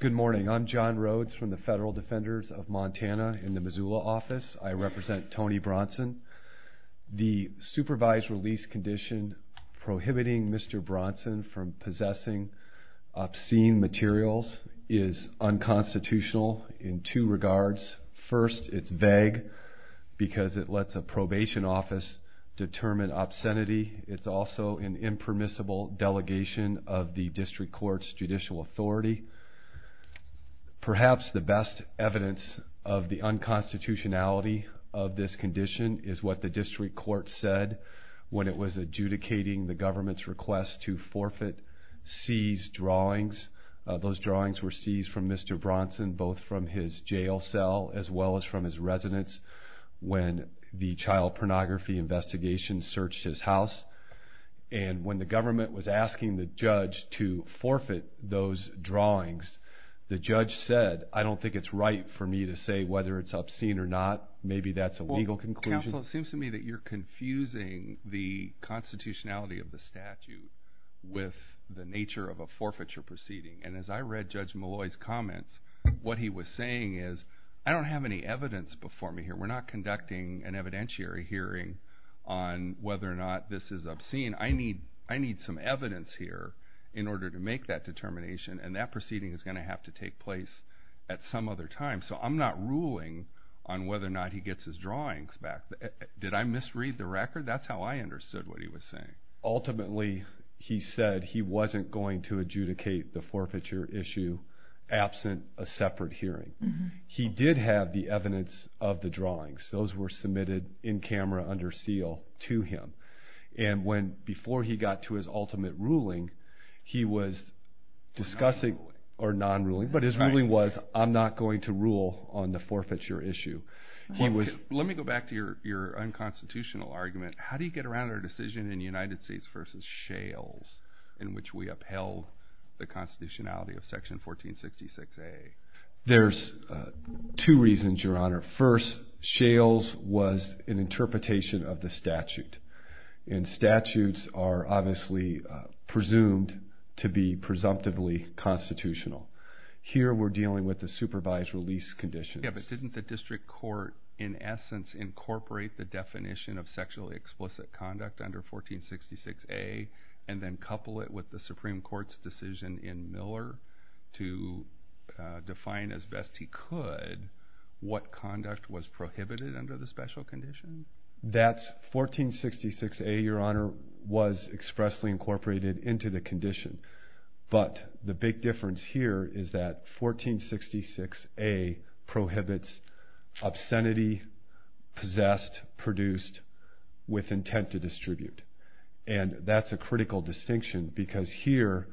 Good morning. I'm John Rhodes from the Federal Defenders of Montana in the Missoula office. I represent Tony Bronson. The supervised release condition prohibiting Mr. Bronson from possessing obscene materials is unconstitutional in two regards. First, it's vague because it lets a probation office determine obscenity. It's also an impermissible delegation of the district court's judicial authority. Perhaps the best evidence of the unconstitutionality of this condition is what the district court said when it was adjudicating the government's request to forfeit seized drawings. Those drawings were seized from Mr. Bronson, both from his jail cell as well as from his residence when the child pornography investigation searched his house. When the government was asking the judge to forfeit those drawings, the judge said, I don't think it's right for me to say whether it's obscene or not. Maybe that's a legal conclusion. Counsel, it seems to me that you're confusing the constitutionality of the statute with the nature of a forfeiture proceeding. And as I read Judge Malloy's comments, what he was saying is, I don't have any evidence before me here. We're not conducting an evidentiary hearing on whether or not this is obscene. I need some evidence here in order to make that determination, and that proceeding is going to have to take place at some other time. So I'm not ruling on whether or not he gets his drawings back. Did I misread the record? That's how I understood what he was saying. Ultimately, he said he wasn't going to adjudicate the forfeiture issue absent a separate hearing. He did have the evidence of the drawings. Those were submitted in camera under seal to him. And before he got to his ultimate ruling, he was discussing or non-ruling, but his ruling was, I'm not going to rule on the forfeiture issue. Let me go back to your unconstitutional argument. How do you get around our decision in the United States v. Shales in which we upheld the constitutionality of Section 1466A? There's two reasons, Your Honor. First, Shales was an interpretation of the statute, and statutes are obviously presumed to be presumptively constitutional. Here we're dealing with the supervised release conditions. Didn't the district court, in essence, incorporate the definition of sexually explicit conduct under 1466A and then couple it with the Supreme Court's decision in Miller to define as best he could what conduct was prohibited under the special condition? That's 1466A, Your Honor, was expressly incorporated into the condition. But the big difference here is that 1466A prohibits obscenity possessed, produced, with intent to distribute. And that's a critical distinction because here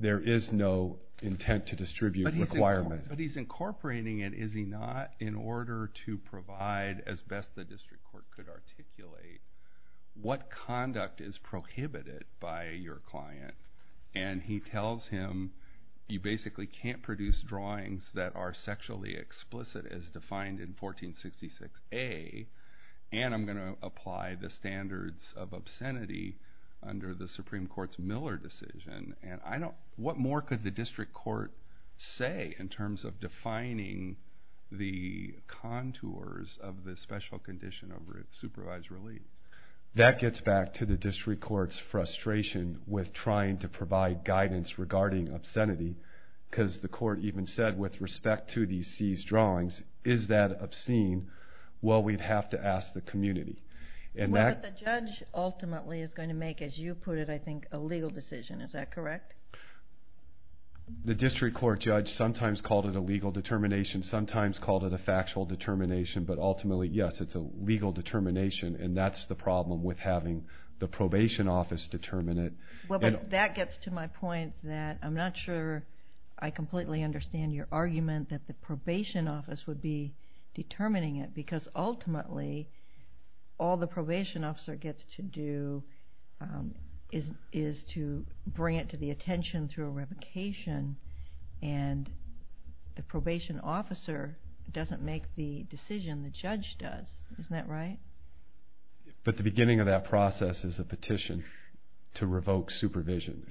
there is no intent to distribute requirement. But he's incorporating it, is he not, in order to provide as best the district court could articulate what conduct is prohibited by your client. And he tells him, you basically can't produce drawings that are sexually explicit as defined in 1466A, and I'm going to apply the standards of obscenity under the Supreme Court's Miller decision. What more could the district court say in terms of defining the contours of the special condition of supervised release? That gets back to the district court's frustration with trying to provide guidance regarding obscenity because the court even said, with respect to these seized drawings, is that obscene? Well, we'd have to ask the community. Well, but the judge ultimately is going to make, as you put it, I think, a legal decision. Is that correct? The district court judge sometimes called it a legal determination, sometimes called it a factual determination, but ultimately, yes, it's a legal determination, and that's the problem with having the probation office determine it. Well, but that gets to my point that I'm not sure I completely understand your argument that the probation office would be determining it because ultimately, all the probation officer gets to do is to bring it to the attention through a revocation, and the probation officer doesn't make the decision, the judge does. Isn't that right? But the beginning of that process is a petition to revoke supervision.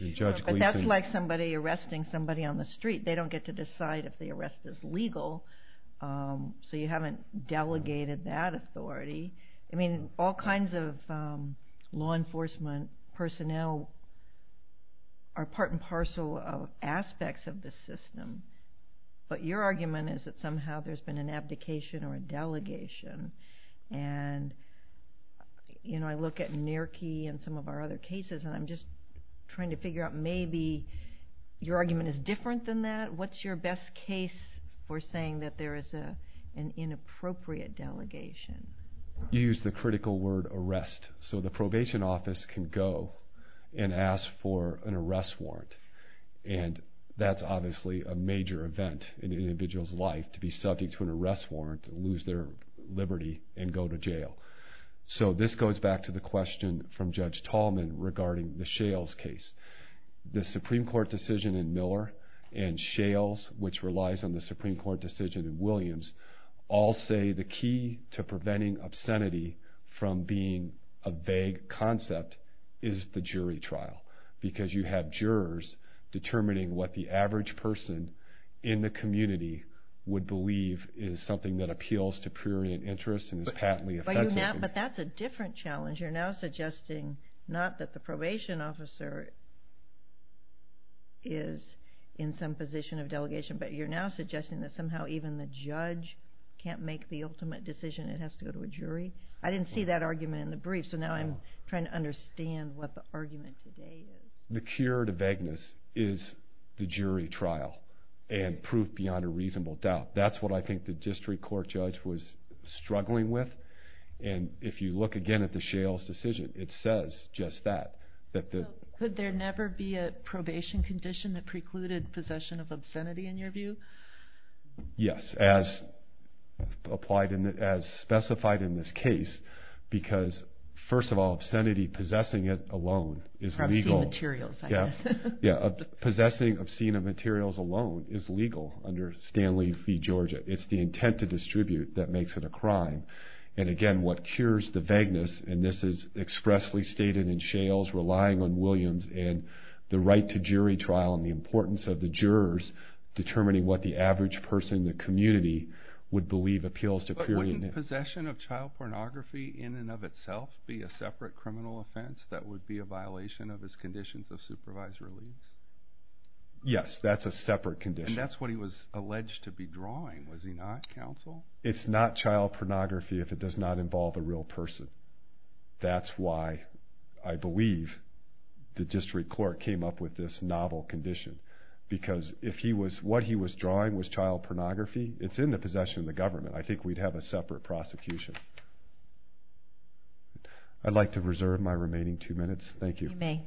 But that's like somebody arresting somebody on the street. They don't get to decide if the arrest is legal, so you haven't delegated that authority. I mean, all kinds of law enforcement personnel are part and parcel of aspects of the system, but your argument is that somehow there's been an abdication or a delegation, and I look at Nearkey and some of our other cases, and I'm just trying to figure out maybe your argument is different than that. What's your best case for saying that there is an inappropriate delegation? You use the critical word arrest, so the probation office can go and ask for an arrest warrant, and that's obviously a major event in an individual's life to be subject to an arrest warrant and lose their liberty and go to jail. So this goes back to the question from Judge Tallman regarding the Shales case. The Supreme Court decision in Miller and Shales, which relies on the Supreme Court decision in Williams, all say the key to preventing obscenity from being a vague concept is the jury trial, because you have jurors determining what the average person in the community would believe is something that appeals to prurient interest and is patently offensive. But that's a different challenge. You're now suggesting not that the probation officer is in some position of delegation, but you're now suggesting that somehow even the judge can't make the ultimate decision and it has to go to a jury. I didn't see that argument in the brief, so now I'm trying to understand what the argument today is. The cure to vagueness is the jury trial and proof beyond a reasonable doubt. That's what I think the district court judge was struggling with. And if you look again at the Shales decision, it says just that. Could there never be a probation condition that precluded possession of obscenity in your view? Yes, as specified in this case, because first of all, obscenity, possessing it alone is legal. Obscene materials, I guess. Possessing obscene materials alone is legal under Stanley v. Georgia. It's the intent to distribute that makes it a crime. And again, what cures the vagueness, and this is expressly stated in Shales, relying on Williams and the right to jury trial and the importance of the jurors determining what the average person in the community would believe appeals to prurient interest. But wouldn't possession of child pornography in and of itself be a separate criminal offense that would be a violation of his conditions of supervised release? Yes, that's a separate condition. And that's what he was alleged to be drawing, was he not, counsel? It's not child pornography if it does not involve a real person. That's why I believe the district court came up with this novel condition, because what he was drawing was child pornography. It's in the possession of the government. I think we'd have a separate prosecution. I'd like to reserve my remaining two minutes. Thank you. You may.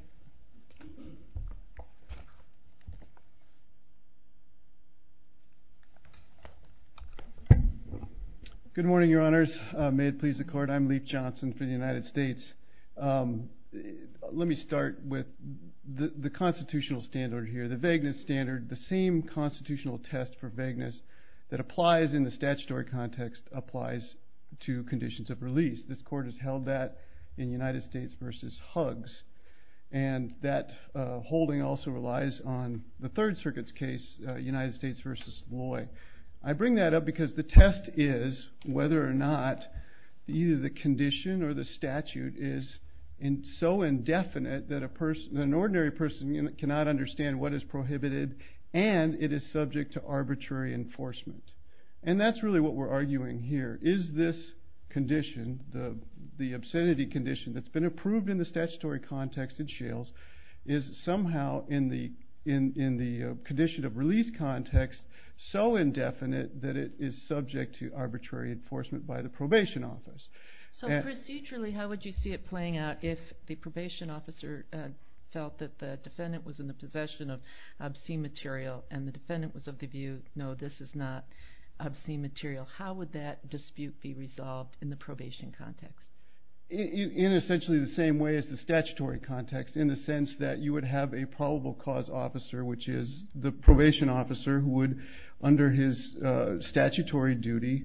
Good morning, Your Honors. May it please the Court. I'm Leif Johnson for the United States. Let me start with the constitutional standard here, the vagueness standard, the same constitutional test for vagueness that applies in the statutory context to conditions of release. This Court has held that in United States v. Huggs. And that holding also relies on the Third Circuit's case, United States v. Loy. I bring that up because the test is whether or not either the condition or the statute is so indefinite that an ordinary person cannot understand what is prohibited and it is subject to arbitrary enforcement. And that's really what we're arguing here. Is this condition, the obscenity condition that's been approved in the statutory context in Shales, is somehow in the condition of release context so indefinite that it is subject to arbitrary enforcement by the probation office? So procedurally, how would you see it playing out if the probation officer felt that the defendant was in the possession of obscene material and the defendant was of the view, no, this is not obscene material? How would that dispute be resolved in the probation context? In essentially the same way as the statutory context, in the sense that you would have a probable cause officer, which is the probation officer who would, under his statutory duty,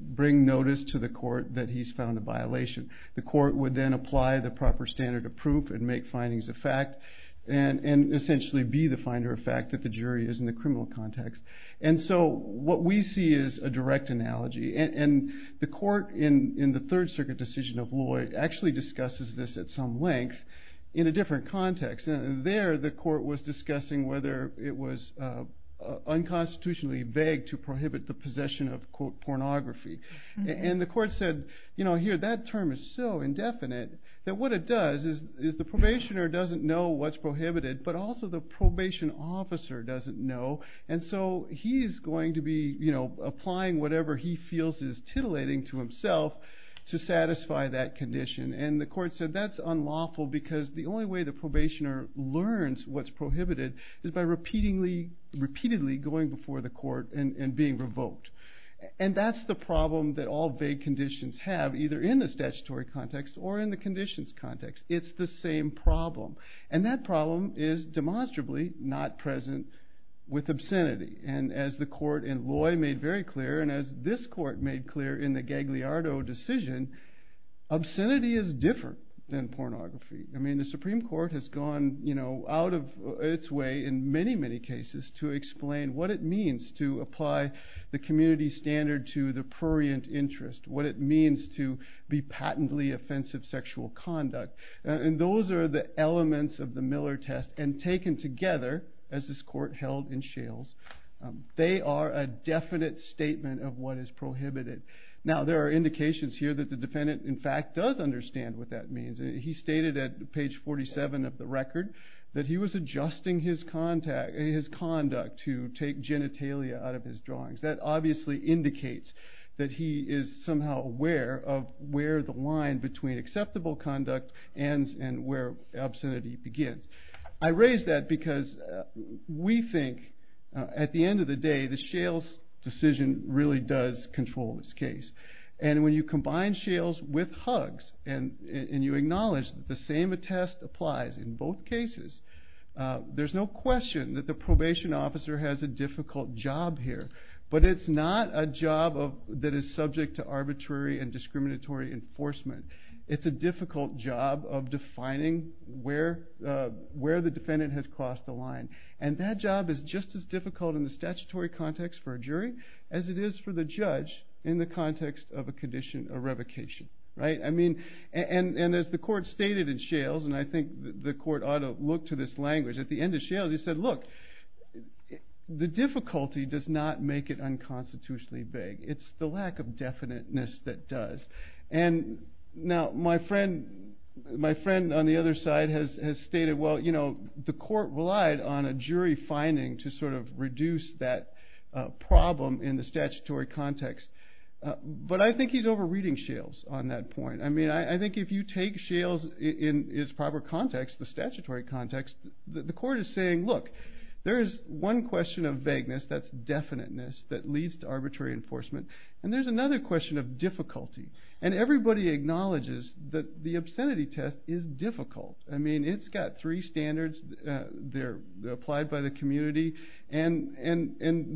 bring notice to the court that he's found a violation. The court would then apply the proper standard of proof and make findings of fact and essentially be the finder of fact that the jury is in the criminal context. And so what we see is a direct analogy. And the court in the Third Circuit decision of Lloyd actually discusses this at some length in a different context. There the court was discussing whether it was unconstitutionally vague to prohibit the possession of, quote, pornography. And the court said, you know, here that term is so indefinite that what it does is the probationer doesn't know what's prohibited, but also the probation officer doesn't know. And so he is going to be applying whatever he feels is titillating to himself to satisfy that condition. And the court said that's unlawful because the only way the probationer learns what's prohibited is by repeatedly going before the court and being revoked. And that's the problem that all vague conditions have, either in the statutory context or in the conditions context. It's the same problem. And that problem is demonstrably not present with obscenity. And as the court in Lloyd made very clear, and as this court made clear in the Gagliardo decision, obscenity is different than pornography. I mean, the Supreme Court has gone, you know, out of its way in many, many cases to explain what it means to apply the community standard to the prurient interest, what it means to be patently offensive sexual conduct. And those are the elements of the Miller test. And taken together, as this court held in Shales, they are a definite statement of what is prohibited. Now, there are indications here that the defendant, in fact, does understand what that means. He stated at page 47 of the record that he was adjusting his conduct to take genitalia out of his drawings. That obviously indicates that he is somehow aware of where the line between acceptable conduct ends and where obscenity begins. I raise that because we think, at the end of the day, the Shales decision really does control this case. And when you combine Shales with hugs, and you acknowledge that the same test applies in both cases, there's no question that the probation officer has a difficult job here. But it's not a job that is subject to arbitrary and discriminatory enforcement. It's a difficult job of defining where the defendant has crossed the line. And that job is just as difficult in the statutory context for a jury as it is for the judge in the context of a condition of revocation. And as the court stated in Shales, and I think the court ought to look to this language at the end of Shales, he said, look, the difficulty does not make it unconstitutionally vague. It's the lack of definiteness that does. And now my friend on the other side has stated, well, you know, the court relied on a jury finding to sort of reduce that problem in the statutory context. But I think he's over-reading Shales on that point. I mean, I think if you take Shales in its proper context, the statutory context, the court is saying, look, there is one question of vagueness that's definiteness that leads to arbitrary enforcement. And there's another question of difficulty. And everybody acknowledges that the obscenity test is difficult. I mean, it's got three standards. They're applied by the community. And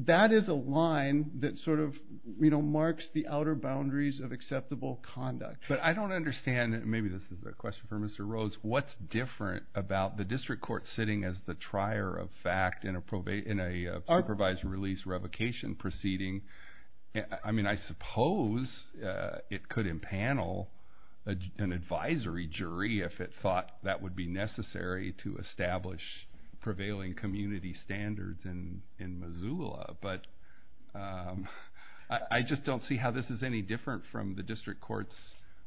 that is a line that sort of marks the outer boundaries of acceptable conduct. But I don't understand, and maybe this is a question for Mr. Rhodes, what's different about the district court sitting as the trier of fact in a supervised release revocation proceeding? I mean, I suppose it could impanel an advisory jury if it thought that would be necessary to establish prevailing community standards in Missoula. But I just don't see how this is any different from the district court's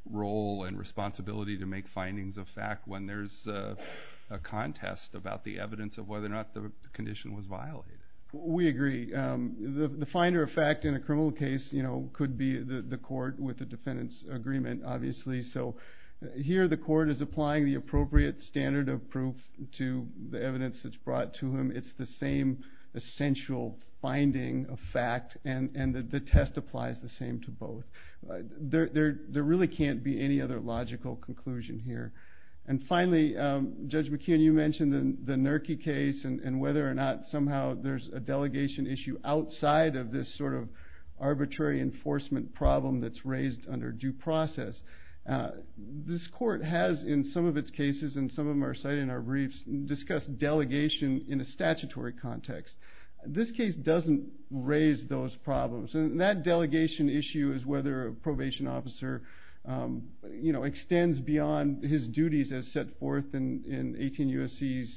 role and responsibility to make findings of fact when there's a contest about the evidence of whether or not the condition was violated. We agree. The finder of fact in a criminal case could be the court with the defendant's agreement, obviously. So here the court is applying the appropriate standard of proof to the evidence that's brought to him. It's the same essential finding of fact, and the test applies the same to both. There really can't be any other logical conclusion here. And finally, Judge McKeon, you mentioned the Nurki case and whether or not somehow there's a delegation issue outside of this sort of arbitrary enforcement problem that's raised under due process. This court has in some of its cases, and some of them are cited in our briefs, discussed delegation in a statutory context. This case doesn't raise those problems. And that delegation issue is whether a probation officer extends beyond his duties as set forth in 18 U.S.C.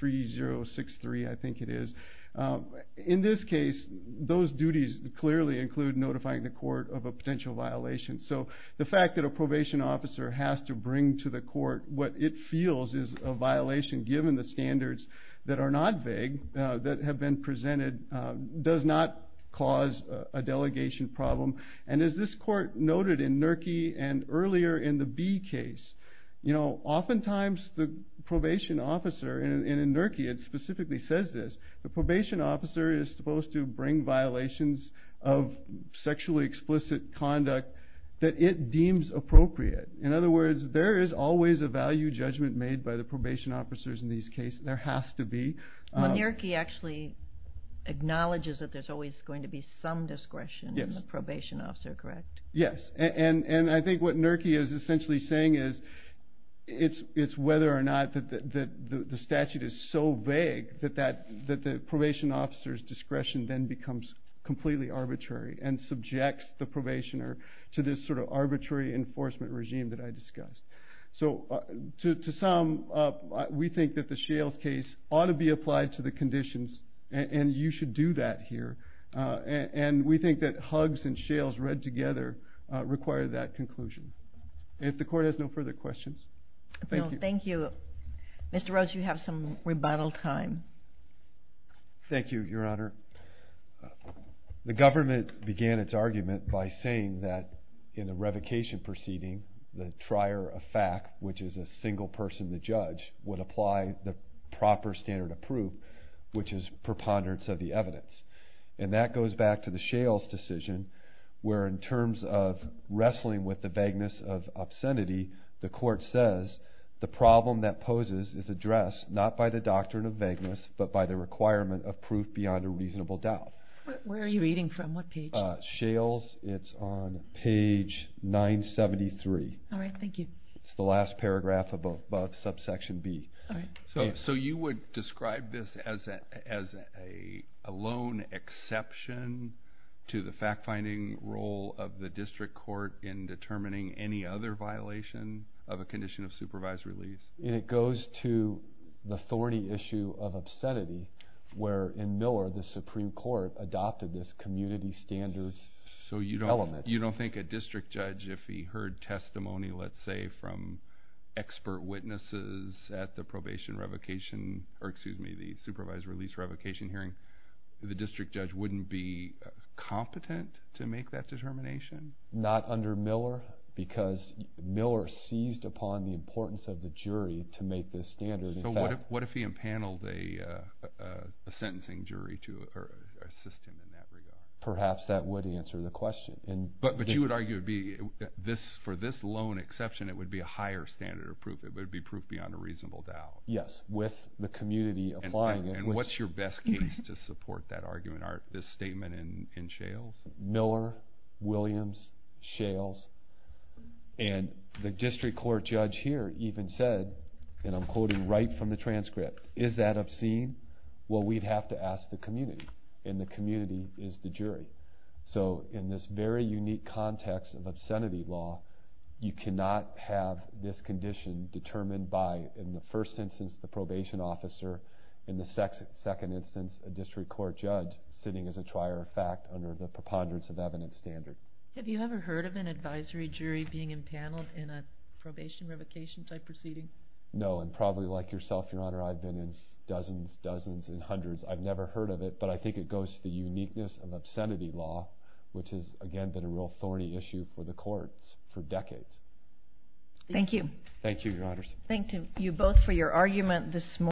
3063, I think it is. In this case, those duties clearly include notifying the court of a potential violation. So the fact that a probation officer has to bring to the court what it feels is a violation, given the standards that are not vague, that have been presented, does not cause a delegation problem. And as this court noted in Nurki and earlier in the Bee case, oftentimes the probation officer, and in Nurki it specifically says this, the probation officer is supposed to bring violations of sexually explicit conduct that it deems appropriate. In other words, there is always a value judgment made by the probation officers in these cases. There has to be. Nurki actually acknowledges that there's always going to be some discretion in the probation officer, correct? Yes, and I think what Nurki is essentially saying is it's whether or not the statute is so vague that the probation officer's discretion then becomes completely arbitrary and subjects the probationer to this sort of arbitrary enforcement regime that I discussed. So to sum up, we think that the Shales case ought to be applied to the conditions, and you should do that here. And we think that Huggs and Shales read together require that conclusion. If the court has no further questions, thank you. Thank you. Mr. Rhodes, you have some rebuttal time. Thank you, Your Honor. The government began its argument by saying that in the revocation proceeding, the trier of fact, which is a single person, the judge, would apply the proper standard of proof, which is preponderance of the evidence. And that goes back to the Shales decision where in terms of wrestling with the vagueness of obscenity, the court says the problem that poses is addressed not by the doctrine of vagueness but by the requirement of proof beyond a reasonable doubt. Where are you reading from? What page? Shales. It's on page 973. All right. Thank you. It's the last paragraph above subsection B. So you would describe this as a lone exception to the fact-finding role of the district court in determining any other violation of a condition of supervised release? And it goes to the thorny issue of obscenity where in Miller, the Supreme Court adopted this community standards element. So you don't think a district judge, if he heard testimony, let's say, from expert witnesses at the probation revocation or, excuse me, the supervised release revocation hearing, the district judge wouldn't be competent to make that determination? Not under Miller because Miller seized upon the importance of the jury to make this standard. So what if he impaneled a sentencing jury to assist him in that regard? Perhaps that would answer the question. But you would argue for this lone exception it would be a higher standard of proof. It would be proof beyond a reasonable doubt. Yes, with the community applying it. And what's your best case to support that argument, this statement in Shales? Miller, Williams, Shales, and the district court judge here even said, and I'm quoting right from the transcript, is that obscene? Well, we'd have to ask the community, and the community is the jury. So in this very unique context of obscenity law, you cannot have this condition determined by, in the first instance, the probation officer, in the second instance, a district court judge sitting as a trier of fact under the preponderance of evidence standard. Have you ever heard of an advisory jury being impaneled in a probation revocation type proceeding? No, and probably like yourself, Your Honor, I've been in dozens, dozens, and hundreds. I've never heard of it, but I think it goes to the uniqueness of obscenity law, which has, again, been a real thorny issue for the courts for decades. Thank you. Thank you, Your Honors. Thank you both for your argument this morning.